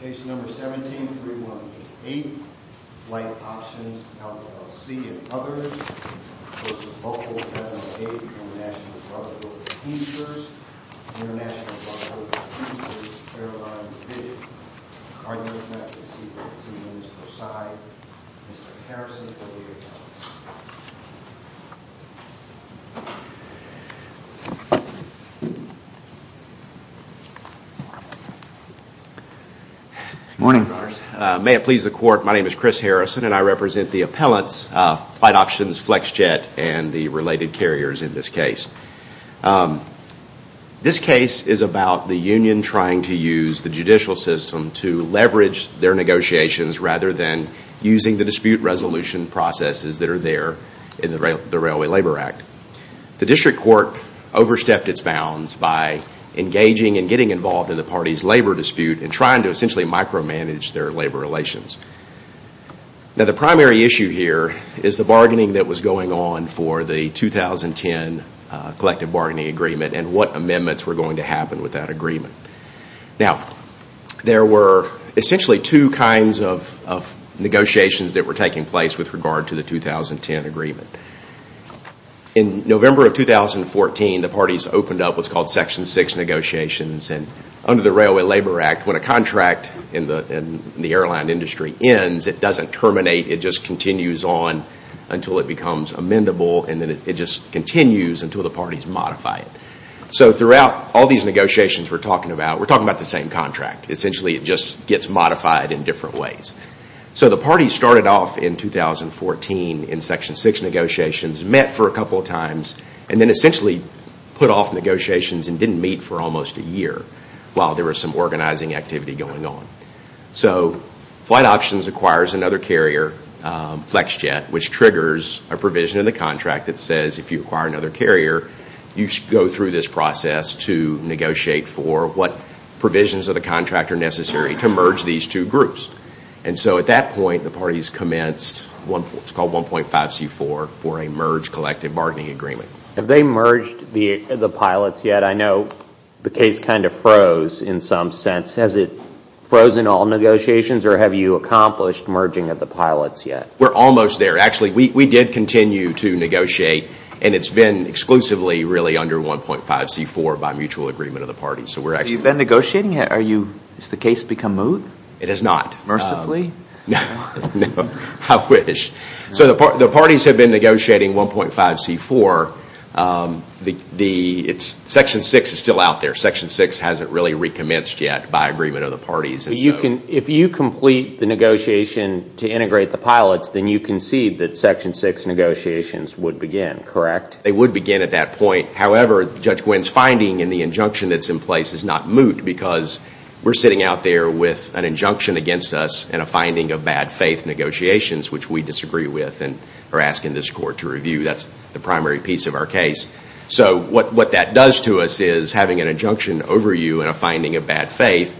Case No. 17-3188, Flight Options, LLC and others, v. Local 1108, International Flight, Local 151st, International Flight, Local 151st, Airline 151st. Good morning. May it please the court, my name is Chris Harrison and I represent the appellants, Flight Options, Flexjet and the related carriers in this case. This case is about the union trying to use the judicial system to leverage their negotiations rather than using the dispute resolution processes that are there in the Railway Labor Act. The district court overstepped its bounds by engaging and getting involved in the party's labor dispute and trying to essentially micromanage their labor relations. Now the primary issue here is the bargaining that was going on for the 2010 collective bargaining agreement and what amendments were going to happen with that agreement. Now there were essentially two kinds of negotiations that were taking place with regard to the 2010 agreement. In November of 2014, the parties opened up what's called Section 6 negotiations and under the Railway Labor Act, when a contract in the airline industry ends, it doesn't terminate, it just continues on until it becomes amendable and then it just continues until the parties modify it. So throughout all these negotiations we're talking about, we're talking about the same contract. Essentially it just gets modified in different ways. So the parties started off in 2014 in Section 6 negotiations, met for a couple of times and then essentially put off negotiations and didn't meet for almost a year while there was some organizing activity going on. So Flight Options acquires another carrier, Flexjet, which triggers a provision in the contract that says if you acquire another carrier, you should go through this process to negotiate for what provisions of the contract are necessary to merge these two groups. And so at that point, the parties commenced what's called 1.5C4 for a merged collective bargaining agreement. Have they merged the pilots yet? I know the case kind of froze in some sense. Has it frozen all negotiations or have you accomplished merging of the pilots yet? We're almost there. Actually we did continue to negotiate and it's been exclusively really under 1.5C4 by mutual agreement of the parties. So you've been negotiating? Has the case become moot? It has not. Mercifully? No, I wish. So the parties have been negotiating 1.5C4. Section 6 is still out there. Section 6 hasn't really recommenced yet by agreement of the parties. If you complete the negotiation to integrate the pilots, then you concede that Section 6 negotiations would begin, correct? They would begin at that point. However, Judge Gwinn's finding in the injunction that's in place is not moot because we're sitting out there with an injunction against us and a finding of bad faith negotiations, which we disagree with and are asking this court to review. That's the primary piece of our case. So what that does to us is having an injunction over you and a finding of bad faith.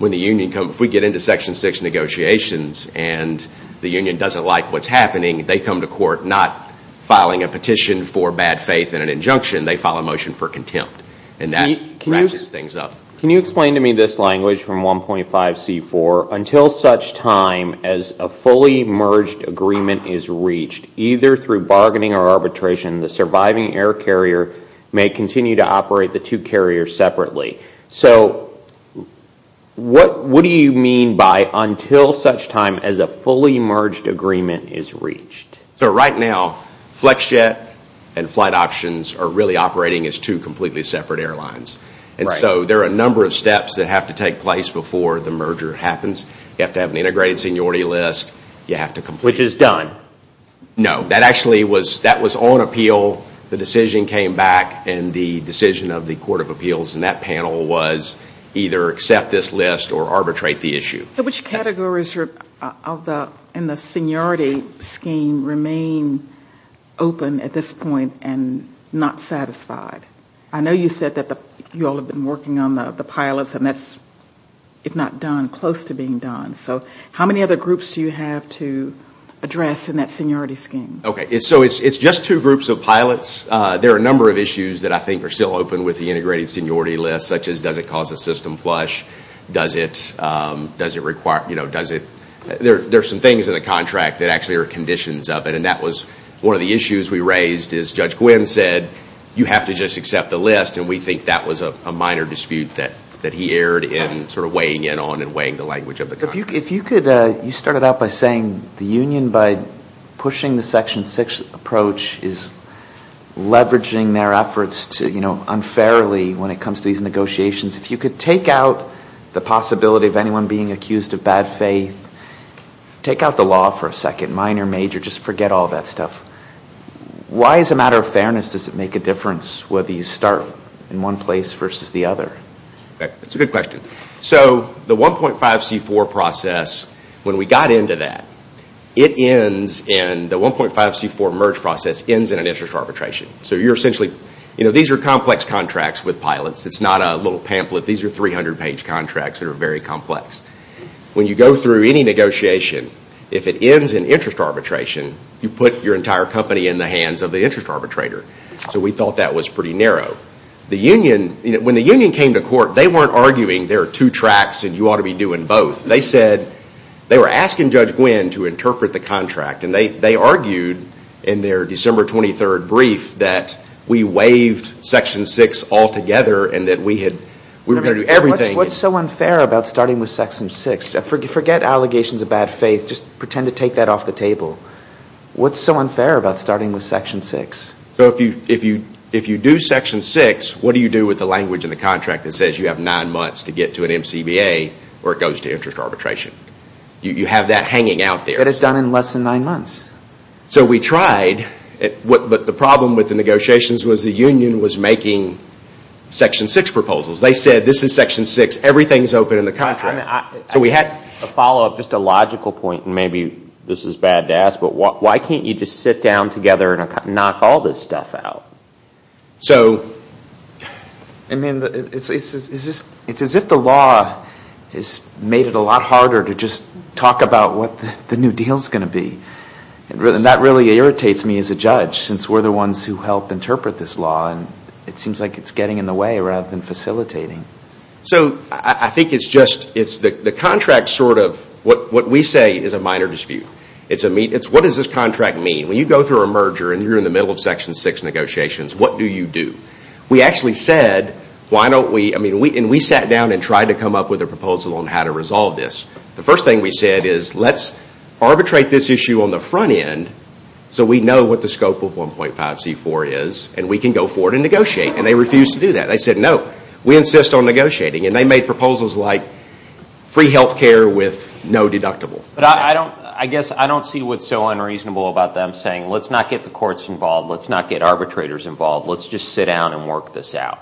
If we get into Section 6 negotiations and the union doesn't like what's happening, they come to court not filing a petition for bad faith and an injunction, they file a motion for contempt. And that ratchets things up. Can you explain to me this language from 1.5C4? Until such time as a fully merged agreement is reached, either through bargaining or arbitration, the surviving air carrier may continue to So what do you mean by until such time as a fully merged agreement is reached? So right now, Flexjet and Flight Options are really operating as two completely separate airlines. And so there are a number of steps that have to take place before the merger happens. You have to have an integrated seniority list. Which is done? No. That actually was on appeal. The decision came back and the decision of the Court of Appeals panel was either accept this list or arbitrate the issue. So which categories in the seniority scheme remain open at this point and not satisfied? I know you said that you all have been working on the pilots and that's, if not done, close to being done. So how many other groups do you have to address in that seniority scheme? So it's just two groups of pilots. There are a number of issues that I think are still open with the integrated seniority list such as does it cause a system flush? There are some things in the contract that actually are conditions of it. And that was one of the issues we raised is Judge Gwynne said, you have to just accept the list. And we think that was a minor dispute that he erred in sort of weighing in on and weighing the language of the contract. If you could, you started out by saying the union by pushing the Section 6 approach is done fairly when it comes to these negotiations. If you could take out the possibility of anyone being accused of bad faith, take out the law for a second, minor, major, just forget all that stuff. Why as a matter of fairness does it make a difference whether you start in one place versus the other? That's a good question. So the 1.5C4 process, when we got into that, it ends in the 1.5C4 merge process ends in an interest arbitration. So you're essentially, these are complex contracts with pilots. It's not a little pamphlet. These are 300 page contracts that are very complex. When you go through any negotiation, if it ends in interest arbitration, you put your entire company in the hands of the interest arbitrator. So we thought that was pretty narrow. The union, when the union came to court, they weren't arguing there are two tracks and you ought to be doing both. They said, they were asking Judge Gwynne to interpret the contract and they argued in their December 23rd brief that we waived Section 6 altogether and that we were going to do everything. What's so unfair about starting with Section 6? Forget allegations of bad faith, just pretend to take that off the table. What's so unfair about starting with Section 6? If you do Section 6, what do you do with the language in the contract that says you have nine months to get to an MCBA where it goes to interest arbitration? You have that hanging out there. You could have done it in less than nine months. So we tried, but the problem with the negotiations was the union was making Section 6 proposals. They said, this is Section 6, everything is open in the contract. We had a follow up, just a logical point, and maybe this is bad to ask, but why can't you just sit down together and knock all this stuff out? It's as if the law has made it a lot harder to just talk about what the new deal is going to be. That really irritates me as a judge, since we're the ones who help interpret this law and it seems like it's getting in the way rather than facilitating. I think it's just, the contract sort of, what we say is a minor dispute. What does this contract mean? When you go through a merger and you're in the middle of Section 6 negotiations, what do you do? We sat down and tried to come up with a proposal on how to resolve this. The first thing we said is, let's arbitrate this issue on the front end so we know what the scope of 1.5C4 is and we can go forward and negotiate. They refused to do that. They said, no, we insist on negotiating. They made proposals like free health care with no deductible. I guess I don't see what's so unreasonable about them saying, let's not get the courts involved, let's not get arbitrators involved, let's just sit down and work this out.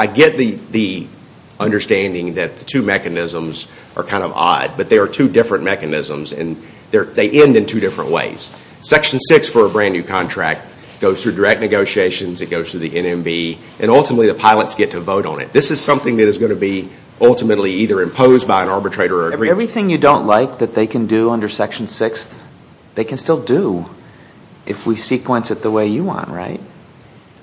I get the understanding that the two mechanisms are kind of odd, but they are two different mechanisms and they end in two different ways. Section 6 for a brand new contract goes through direct negotiations, it goes through the NMB, and ultimately the pilots get to vote on it. This is something that is going to be ultimately either imposed by an arbitrator or agreed to. Everything you don't like that they can do under Section 6, they can still do if we sequence it the way you want, right?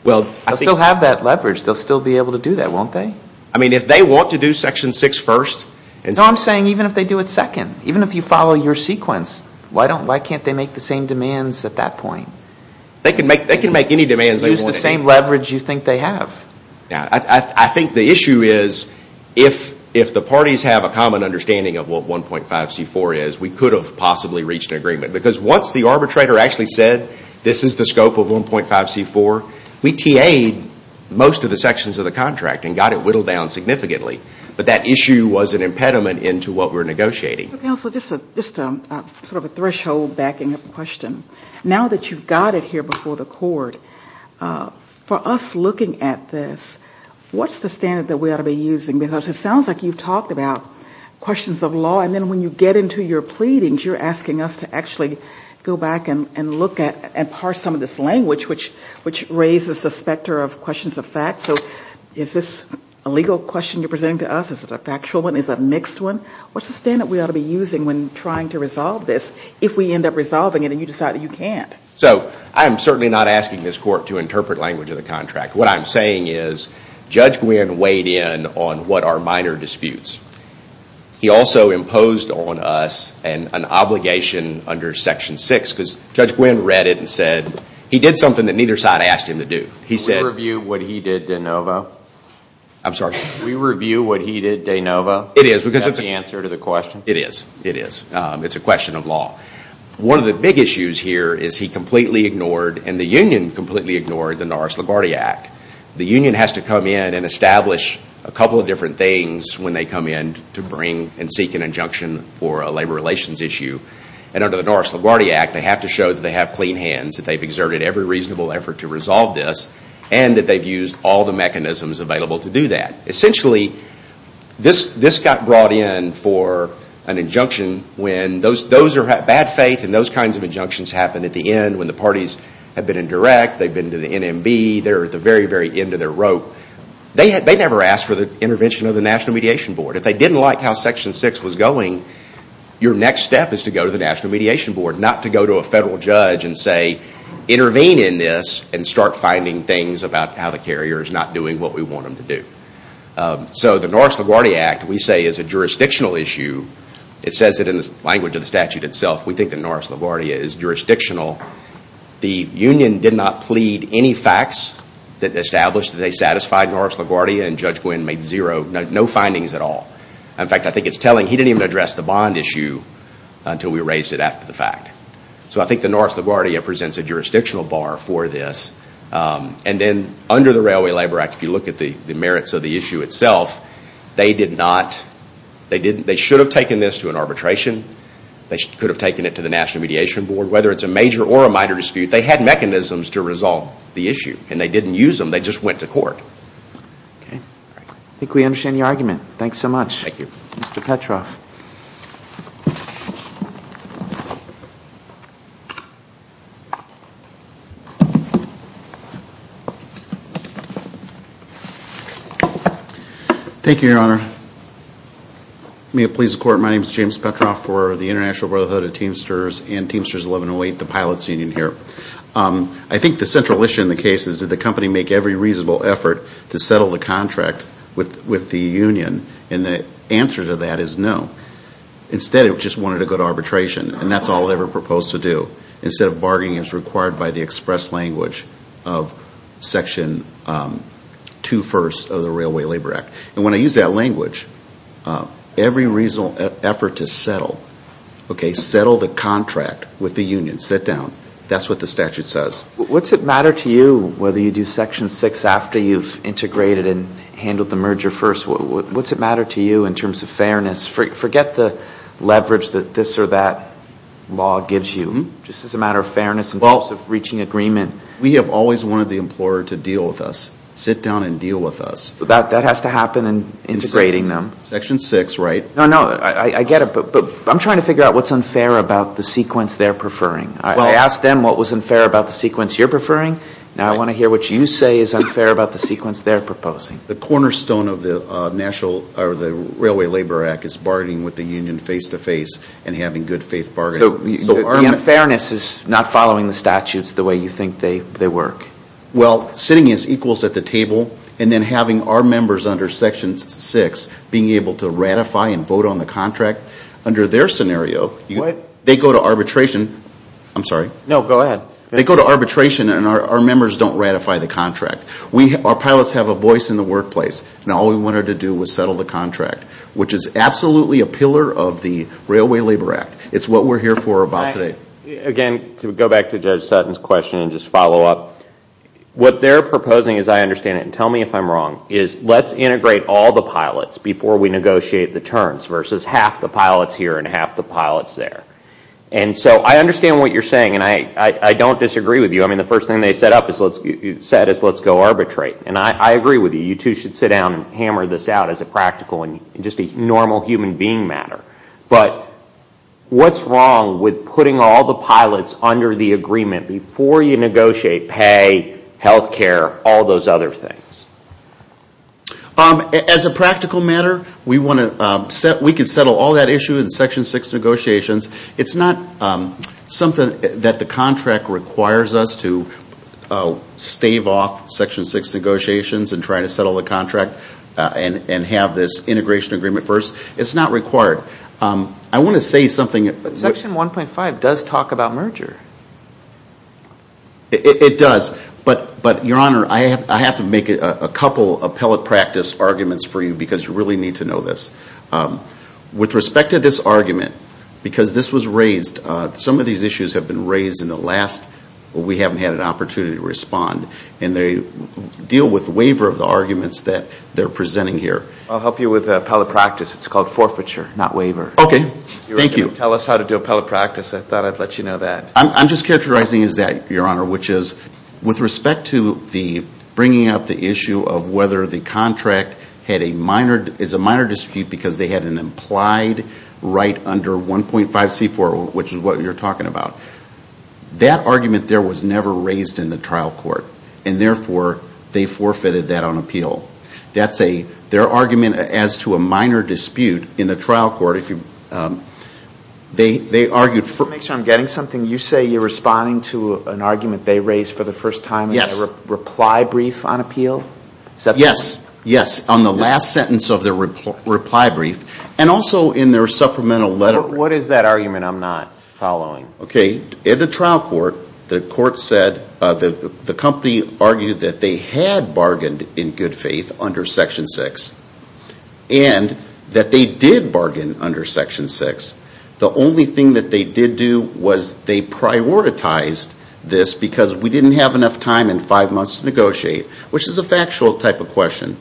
They'll still have that leverage. They'll still be able to do that, won't they? I mean, if they want to do Section 6 first and... No, I'm saying even if they do it second. Even if you follow your sequence, why can't they make the same demands at that point? They can make any demands they want. They can use the same leverage you think they have. I think the issue is, if the parties have a common understanding of what 1.5C4 is, we could have possibly reached an agreement. Because once the arbitrator actually said, this is the scope of 1.5C4, we TA'd most of the sections of the contract and got it whittled down significantly. But that issue was an impediment into what we were negotiating. Counsel, just sort of a threshold backing up question. Now that you've got it here before the court, for us looking at this, what's the standard that we ought to be using? Because it sounds like you've talked about questions of law, and then when you get into your pleadings, you're asking us to actually go back and look at and parse some of this language, which raises a specter of questions of fact. So is this a legal question you're presenting to us? Is it a factual one? Is it a mixed one? What's the standard we ought to be using when trying to resolve this, if we end up resolving it and you decide that you can't? So I'm certainly not asking this court to interpret language of the contract. What I'm saying is, Judge Gwynne weighed in on what are minor disputes. He also imposed on us an obligation under Section 6, because Judge Gwynne read it and said, he did something that neither side asked him to do. He said... We review what he did de novo? I'm sorry? We review what he did de novo? It is, because it's... Is that the answer to the question? It is. It is. It's a question of law. One of the big issues here is he completely ignored, and the union completely ignored, the Norris LaGuardia Act. The union has to come in and establish a couple of different things when they come in to bring and seek an injunction for a labor relations issue. And under the Norris LaGuardia Act, they have to show that they have clean hands, that they've exerted every reasonable effort to resolve this, and that they've used all the mechanisms available to do that. Essentially, this got brought in for an injunction when those who have bad faith and those kinds of injunctions happen at the end when the parties have been indirect, they've been to the NMB, they're at the very, very end of their rope. They never asked for the intervention of the National Mediation Board. If they didn't like how Section 6 was going, your next step is to go to the National Mediation Board, not to go to a federal judge and say, So the Norris LaGuardia Act, we say, is a jurisdictional issue. It says it in the language of the statute itself. We think that Norris LaGuardia is jurisdictional. The union did not plead any facts that established that they satisfied Norris LaGuardia, and Judge Gwynne made no findings at all. In fact, I think it's telling he didn't even address the bond issue until we raised it after the fact. So I think the Norris LaGuardia presents a jurisdictional bar for this. And then under the Railway Labor Act, if you look at the merits of the issue itself, they should have taken this to an arbitration. They could have taken it to the National Mediation Board. Whether it's a major or a minor dispute, they had mechanisms to resolve the issue. And they didn't use them, they just went to court. I think we understand your argument. Thanks so much. Thank you. Mr. Petroff. Thank you, Your Honor. May it please the Court, my name is James Petroff for the International Brotherhood of Teamsters and Teamsters 1108, the pilots union here. I think the central issue in the case is, did the company make every reasonable effort to settle the contract with the union? And the answer to that is no. Instead, it just wanted to go to arbitration, and that's all they were proposed to do. Instead of bargaining as required by the express language of Section 2-1st of the Railway Labor Act. And when I use that language, every reasonable effort to settle, okay, settle the contract with the union, sit down. That's what the statute says. What's it matter to you whether you do Section 6 after you've integrated and handled the merger first? What's it matter to you in terms of fairness? Forget the leverage that this or that law gives you. Just as a matter of fairness in terms of reaching agreement. We have always wanted the employer to deal with us, sit down and deal with us. That has to happen in integrating them. Section 6, right? No, no, I get it, but I'm trying to figure out what's unfair about the sequence they're preferring. I asked them what was unfair about the sequence you're preferring. Now I want to hear what you say is unfair about the sequence they're proposing. The cornerstone of the National Railway Labor Act is bargaining with the union face-to-face and having good faith bargaining. The unfairness is not following the statutes the way you think they work. Well, sitting as equals at the table and then having our members under Section 6 being able to ratify and vote on the contract. Under their scenario, they go to arbitration and our members don't ratify the contract. Our pilots have a voice in the workplace, and all we wanted to do was settle the contract, which is absolutely a pillar of the Railway Labor Act. It's what we're here for about today. Again, to go back to Judge Sutton's question and just follow up, what they're proposing, as I understand it, and tell me if I'm wrong, is let's integrate all the pilots before we negotiate the terms versus half the pilots here and half the pilots there. And so I understand what you're saying, and I don't disagree with you. I mean, the first thing they said is let's go arbitrate. And I agree with you. You two should sit down and hammer this out as a practical and just a normal human being matter. But what's wrong with putting all the pilots under the agreement before you negotiate pay, health care, all those other things? As a practical matter, we can settle all that issue in Section 6 negotiations. It's not something that the contract requires us to stave off Section 6 negotiations and try to settle the contract and have this integration agreement first. It's not required. I want to say something. But Section 1.5 does talk about merger. It does. But, Your Honor, I have to make a couple appellate practice arguments for you because you really need to know this. With respect to this argument, because this was raised, some of these issues have been raised in the last, but we haven't had an opportunity to respond. And they deal with waiver of the arguments that they're presenting here. I'll help you with the appellate practice. It's called forfeiture, not waiver. Okay. Thank you. You were going to tell us how to do appellate practice. I thought I'd let you know that. I'm just characterizing as that, Your Honor, which is with respect to the bringing up the issue of whether the contract is a minor dispute because they had an implied right under 1.5C4, which is what you're talking about. That argument there was never raised in the trial court, and therefore they forfeited that on appeal. That's their argument as to a minor dispute in the trial court. They argued for... Just to make sure I'm getting something, you say you're responding to an argument they raised for the first time in the reply brief on appeal? Yes. Yes, on the last sentence of the reply brief, and also in their supplemental letter. What is that argument I'm not following? Okay. In the trial court, the court said, the company argued that they had bargained in good faith under Section 6, and that they did bargain under Section 6. The only thing that they did do was they prioritized this because we didn't have enough time in five months to negotiate, which is a factual type of question.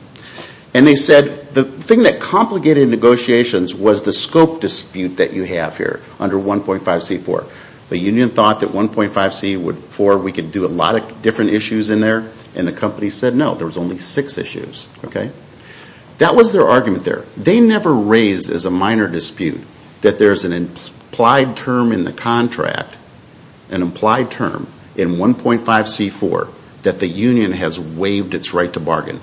And they said the thing that complicated negotiations was the scope dispute that you have here under 1.5C4. The union thought that 1.5C4, we could do a lot of different issues in there, and the company said no, there was only six issues. That was their argument there. They never raised as a minor dispute that there's an implied term in the contract, an implied term in 1.5C4, that the union has waived its right to bargain.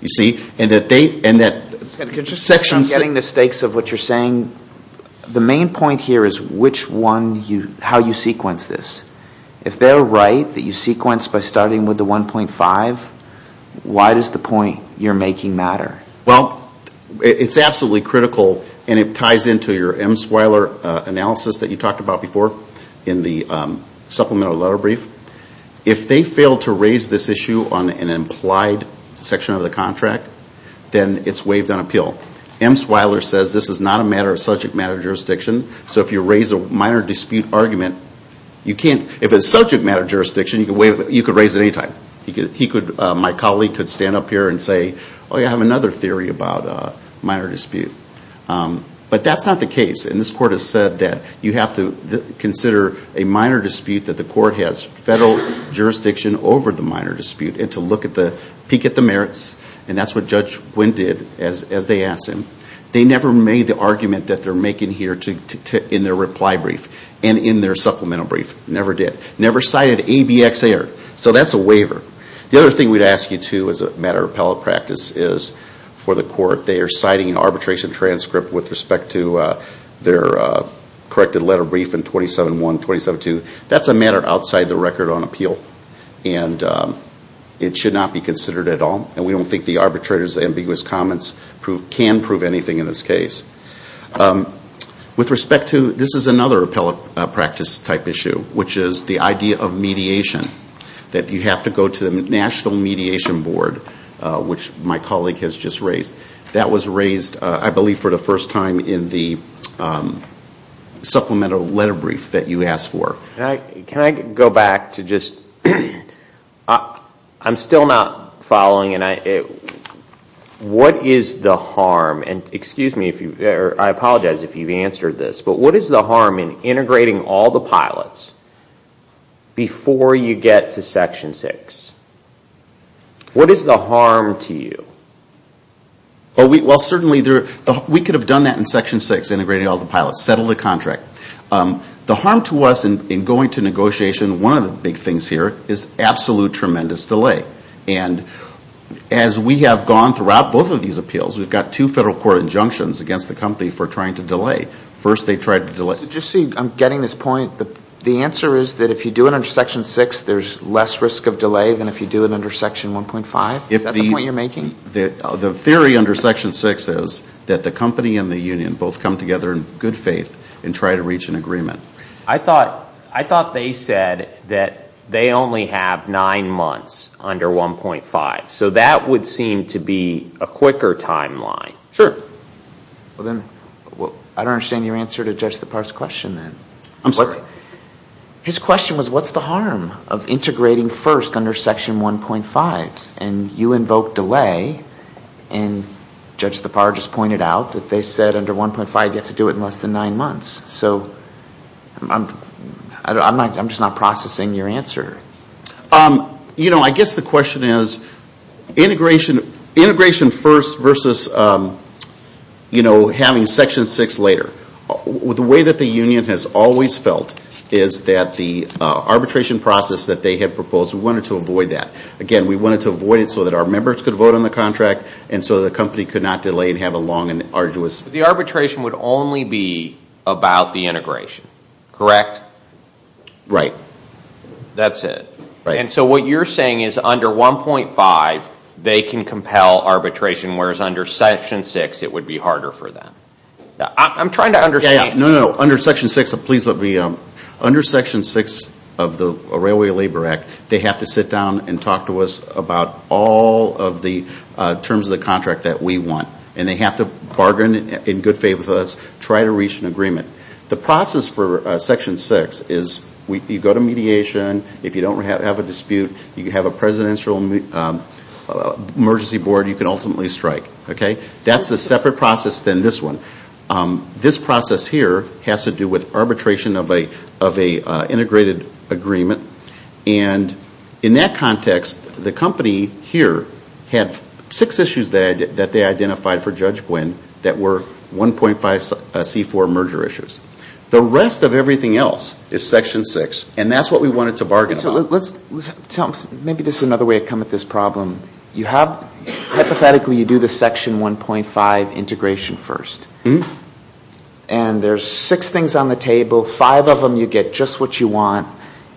You see? And that they... I'm getting the stakes of what you're saying. I mean, the main point here is how you sequence this. If they're right that you sequence by starting with the 1.5, why does the point you're making matter? Well, it's absolutely critical, and it ties into your Msweiler analysis that you talked about before in the supplemental letter brief. If they fail to raise this issue on an implied section of the contract, then it's waived on appeal. Msweiler says this is not a matter of subject matter jurisdiction, so if you raise a minor dispute argument, you can't... If it's subject matter jurisdiction, you could raise it any time. He could... My colleague could stand up here and say, oh, yeah, I have another theory about minor dispute. But that's not the case, and this court has said that you have to consider a minor dispute that the court has federal jurisdiction over the minor dispute and to look at the...peek at the merits, and that's what Judge Gwinn did as they asked him. They never made the argument that they're making here in their reply brief and in their supplemental brief. Never did. Never cited ABX error. So that's a waiver. The other thing we'd ask you to as a matter of appellate practice is, for the court, they are citing an arbitration transcript with respect to their corrected letter brief in 27.1, 27.2. That's a matter outside the record on appeal, and it should not be considered at all, and we don't think the arbitrator's ambiguous comments can prove anything in this case. With respect to... This is another appellate practice-type issue, which is the idea of mediation, that you have to go to the National Mediation Board, which my colleague has just raised. That was raised, I believe, for the first time in the supplemental letter brief that you asked for. Can I go back to just... I'm still not following. What is the harm? I apologize if you've answered this, but what is the harm in integrating all the pilots before you get to Section 6? What is the harm to you? Well, certainly, we could have done that in Section 6, integrating all the pilots, settle the contract. The harm to us in going to negotiation, one of the big things here is absolute tremendous delay. And as we have gone throughout both of these appeals, we've got two federal court injunctions against the company for trying to delay. First, they tried to delay... Just so you... I'm getting this point. The answer is that if you do it under Section 6, there's less risk of delay than if you do it under Section 1.5? Is that the point you're making? The theory under Section 6 is that the company and the union both come together in good faith and try to reach an agreement. I thought they said that they only have nine months under 1.5. So that would seem to be a quicker timeline. Sure. I don't understand your answer to Judge Thapar's question then. I'm sorry? His question was, what's the harm of integrating first under Section 1.5? And you invoked delay, and Judge Thapar just pointed out that they said under 1.5 you have to do it in less than nine months. So I'm just not processing your answer. You know, I guess the question is, integration first versus having Section 6 later. The way that the union has always felt is that the arbitration process that they had proposed, we wanted to avoid that. Again, we wanted to avoid it so that our members could vote on the contract and so the company could not delay and have a long and arduous... So the arbitration would only be about the integration, correct? Right. That's it. And so what you're saying is under 1.5 they can compel arbitration, whereas under Section 6 it would be harder for them. I'm trying to understand... No, no, no. Under Section 6 of the Railway Labor Act, they have to sit down and talk to us about all of the terms of the contract that we want. And they have to bargain in good faith with us, try to reach an agreement. The process for Section 6 is you go to mediation. If you don't have a dispute, you have a presidential emergency board you can ultimately strike. Okay? That's a separate process than this one. This process here has to do with arbitration of an integrated agreement. And in that context, the company here had six issues that they identified for Judge Gwinn that were 1.5C4 merger issues. The rest of everything else is Section 6, and that's what we wanted to bargain with. So let's tell them. Maybe this is another way to come at this problem. You have, hypothetically, you do the Section 1.5 integration first. And there's six things on the table. Five of them you get just what you want,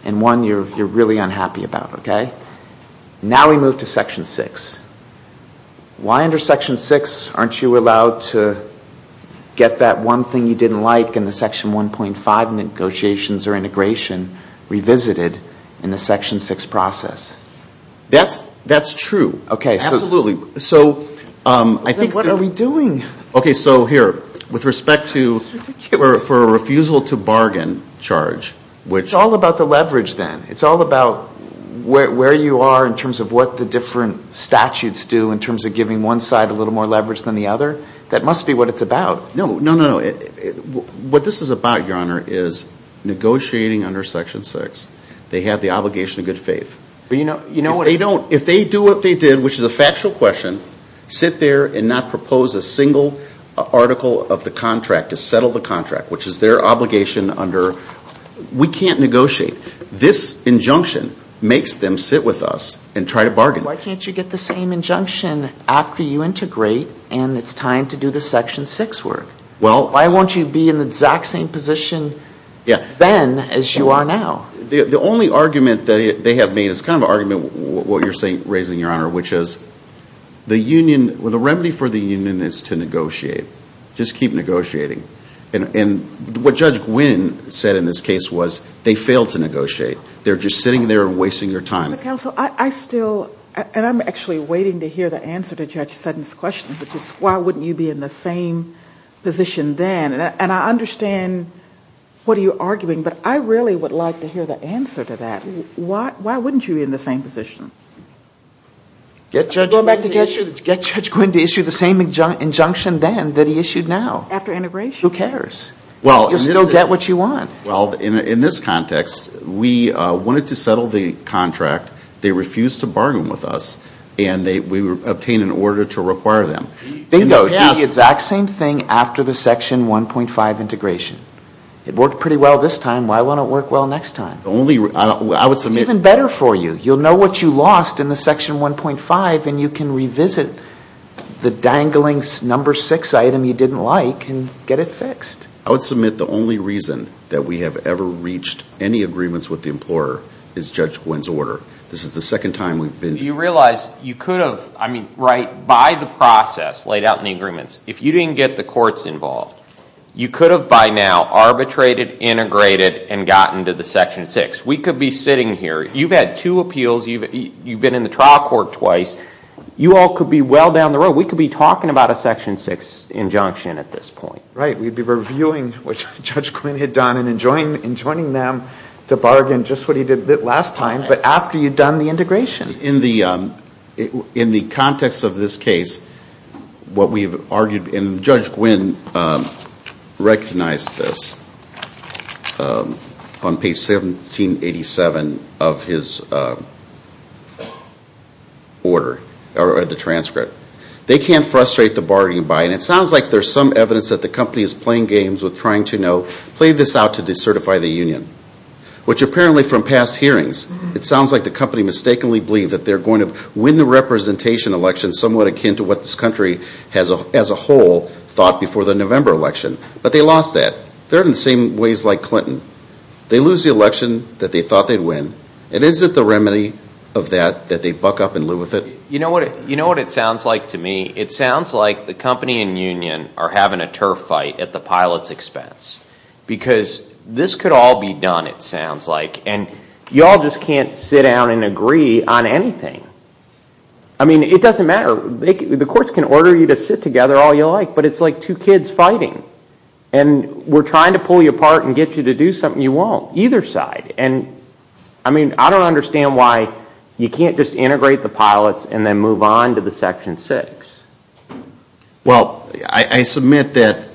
and one you're really unhappy about. Okay? Now we move to Section 6. Why under Section 6 aren't you allowed to get that one thing you didn't like in the Section 1.5 negotiations or integration revisited in the Section 6 process? That's true. Okay. Absolutely. What are we doing? Okay, so here, with respect to a refusal to bargain charge, which ---- It's all about the leverage then. It's all about where you are in terms of what the different statutes do in terms of giving one side a little more leverage than the other. That must be what it's about. No, no, no, no. What this is about, Your Honor, is negotiating under Section 6. They have the obligation of good faith. But you know what ---- If they do what they did, which is a factual question, sit there and not propose a single article of the contract, to settle the contract, which is their obligation under ---- We can't negotiate. This injunction makes them sit with us and try to bargain. Why can't you get the same injunction after you integrate and it's time to do the Section 6 work? Well ---- Why won't you be in the exact same position then as you are now? The only argument that they have made, and it's kind of an argument what you're raising, Your Honor, which is the remedy for the union is to negotiate. Just keep negotiating. And what Judge Gwynne said in this case was they failed to negotiate. They're just sitting there and wasting their time. Counsel, I still ---- And I'm actually waiting to hear the answer to Judge Sutton's question, which is why wouldn't you be in the same position then? And I understand what you're arguing, but I really would like to hear the answer to that. Why wouldn't you be in the same position? Get Judge Gwynne to issue the same injunction then that he issued now. After integration. Well, in this ---- You'll still get what you want. Well, in this context, we wanted to settle the contract. They refused to bargain with us, and we obtained an order to require them. Bingo, do the exact same thing after the Section 1.5 integration. It worked pretty well this time. Why won't it work well next time? Only ---- It's even better for you. You'll know what you lost in the Section 1.5, and you can revisit the dangling number six item you didn't like and get it fixed. I would submit the only reason that we have ever reached any agreements with the employer is Judge Gwynne's order. This is the second time we've been ---- Do you realize you could have, I mean, right, by the process laid out in the agreements, if you didn't get the courts involved, you could have by now arbitrated, integrated, and gotten to the Section 6. We could be sitting here. You've had two appeals. You've been in the trial court twice. You all could be well down the road. We could be talking about a Section 6 injunction at this point. Right. We'd be reviewing what Judge Gwynne had done and enjoining them to bargain just what he did last time, but after you'd done the integration. In the context of this case, what we've argued, and Judge Gwynne recognized this on page 1787 of his order, or the transcript. They can't frustrate the bargaining buy-in. It sounds like there's some evidence that the company is playing games with trying to know, play this out to decertify the union, which apparently from past hearings, it sounds like the company mistakenly believed that they're going to win the representation election, somewhat akin to what this country as a whole thought before the November election, but they lost that. They're in the same ways like Clinton. They lose the election that they thought they'd win, and is it the remedy of that that they buck up and live with it? You know what it sounds like to me? It sounds like the company and union are having a turf fight at the pilot's expense because this could all be done, it sounds like, and you all just can't sit down and agree on anything. I mean, it doesn't matter. The courts can order you to sit together all you like, but it's like two kids fighting, and we're trying to pull you apart and get you to do something you won't, either side. I mean, I don't understand why you can't just integrate the pilots and then move on to the Section 6. Well, I submit that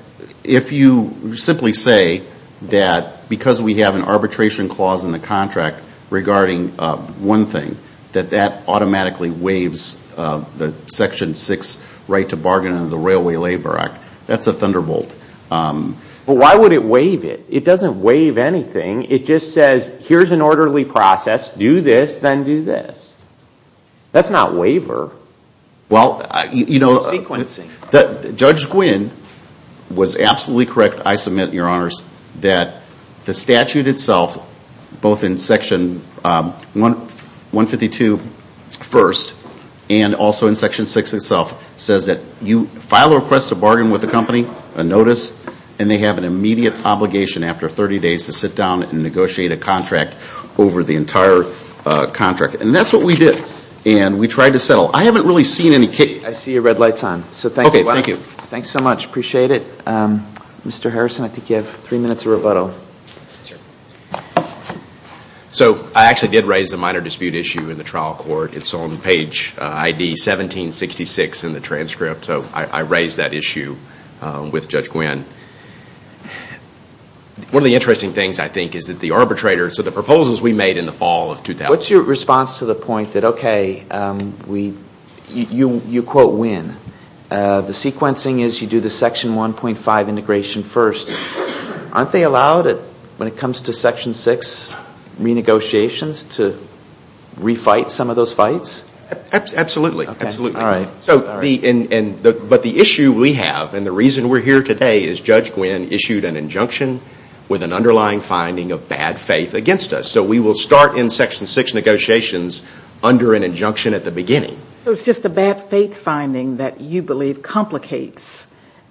if you simply say that because we have an arbitration clause in the contract regarding one thing, that that automatically waives the Section 6 right to bargain under the Railway Labor Act, that's a thunderbolt. But why would it waive it? It doesn't waive anything. It just says, here's an orderly process, do this, then do this. That's not waiver. Well, you know, Judge Gwynne was absolutely correct, I submit, Your Honors, that the statute itself, both in Section 152 first and also in Section 6 itself, says that you file a request to bargain with the company, a notice, and they have an immediate obligation after 30 days to sit down and negotiate a contract over the entire contract. And that's what we did, and we tried to settle. I haven't really seen any case. I see your red light's on, so thank you. Okay, thank you. Thanks so much. Appreciate it. Mr. Harrison, I think you have three minutes of rebuttal. So I actually did raise the minor dispute issue in the trial court. It's on page ID 1766 in the transcript, so I raised that issue with Judge Gwynne. One of the interesting things, I think, is that the arbitrator, so the proposals we made in the fall of 2000 What's your response to the point that, okay, you quote Gwynne. The sequencing is you do the Section 1.5 integration first. Aren't they allowed, when it comes to Section 6 renegotiations, to refight some of those fights? Absolutely. But the issue we have and the reason we're here today is Judge Gwynne issued an injunction with an underlying finding of bad faith against us. So we will start in Section 6 negotiations under an injunction at the beginning. So it's just a bad faith finding that you believe complicates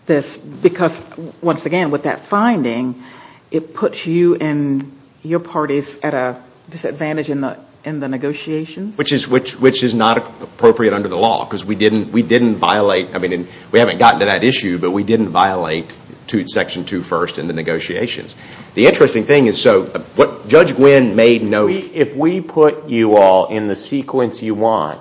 this because, once again, with that finding, it puts you and your parties at a disadvantage in the negotiations? Which is not appropriate under the law because we didn't violate. I mean, we haven't gotten to that issue, but we didn't violate Section 2 first in the negotiations. The interesting thing is, so what Judge Gwynne made note If we put you all in the sequence you want,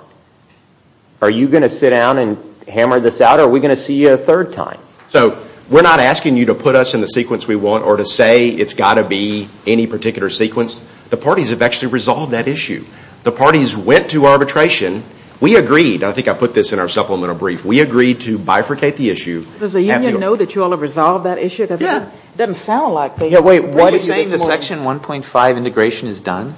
are you going to sit down and hammer this out, or are we going to see you a third time? So we're not asking you to put us in the sequence we want or to say it's got to be any particular sequence. The parties have actually resolved that issue. The parties went to arbitration. We agreed, and I think I put this in our supplemental brief, we agreed to bifurcate the issue. Does the union know that you all have resolved that issue? Yeah. It doesn't sound like they do. Wait, what do you mean the Section 1.5 integration is done?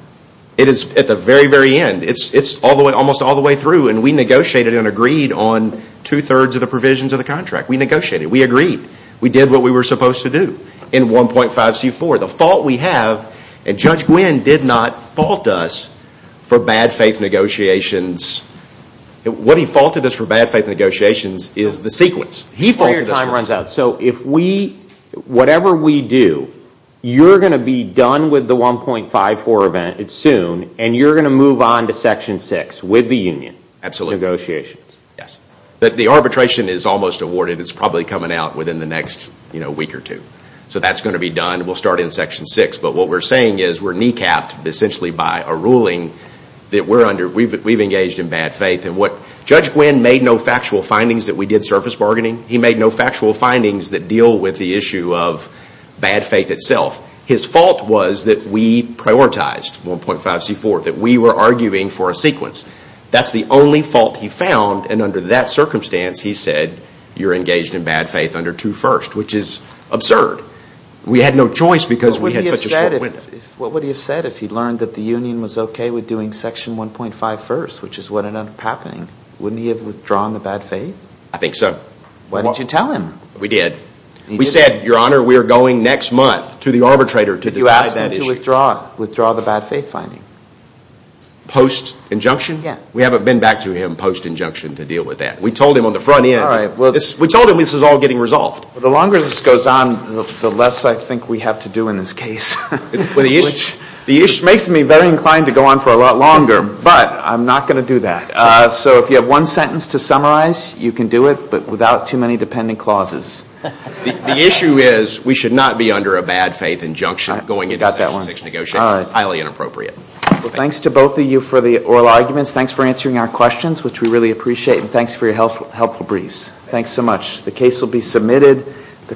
It is at the very, very end. It's almost all the way through, and we negotiated and agreed on two-thirds of the provisions of the contract. We negotiated. We agreed. We did what we were supposed to do in 1.5C4. The fault we have, and Judge Gwynne did not fault us for bad faith negotiations. He faulted us for the sequence. So whatever we do, you're going to be done with the 1.5C4 event soon, and you're going to move on to Section 6 with the union negotiations? Absolutely. Yes. The arbitration is almost awarded. It's probably coming out within the next week or two. So that's going to be done. We'll start in Section 6. But what we're saying is we're kneecapped essentially by a ruling that we've engaged in bad faith. Judge Gwynne made no factual findings that we did surface bargaining. He made no factual findings that deal with the issue of bad faith itself. His fault was that we prioritized 1.5C4, that we were arguing for a sequence. That's the only fault he found, and under that circumstance, he said, you're engaged in bad faith under 2 first, which is absurd. We had no choice because we had such a short window. What would he have said if he'd learned that the union was okay with doing Section 1.5 first, which is what ended up happening? Wouldn't he have withdrawn the bad faith? I think so. Why didn't you tell him? We did. We said, Your Honor, we're going next month to the arbitrator to decide that issue. Did you ask him to withdraw the bad faith finding? Post-injunction? Yes. We haven't been back to him post-injunction to deal with that. We told him on the front end. All right. We told him this is all getting resolved. The longer this goes on, the less I think we have to do in this case. Which makes me very inclined to go on for a lot longer, but I'm not going to do that. So if you have one sentence to summarize, you can do it, but without too many dependent clauses. The issue is we should not be under a bad faith injunction going into Section 6 negotiations. Highly inappropriate. Thanks to both of you for the oral arguments. Thanks for answering our questions, which we really appreciate. And thanks for your helpful briefs. Thanks so much. The case will be submitted.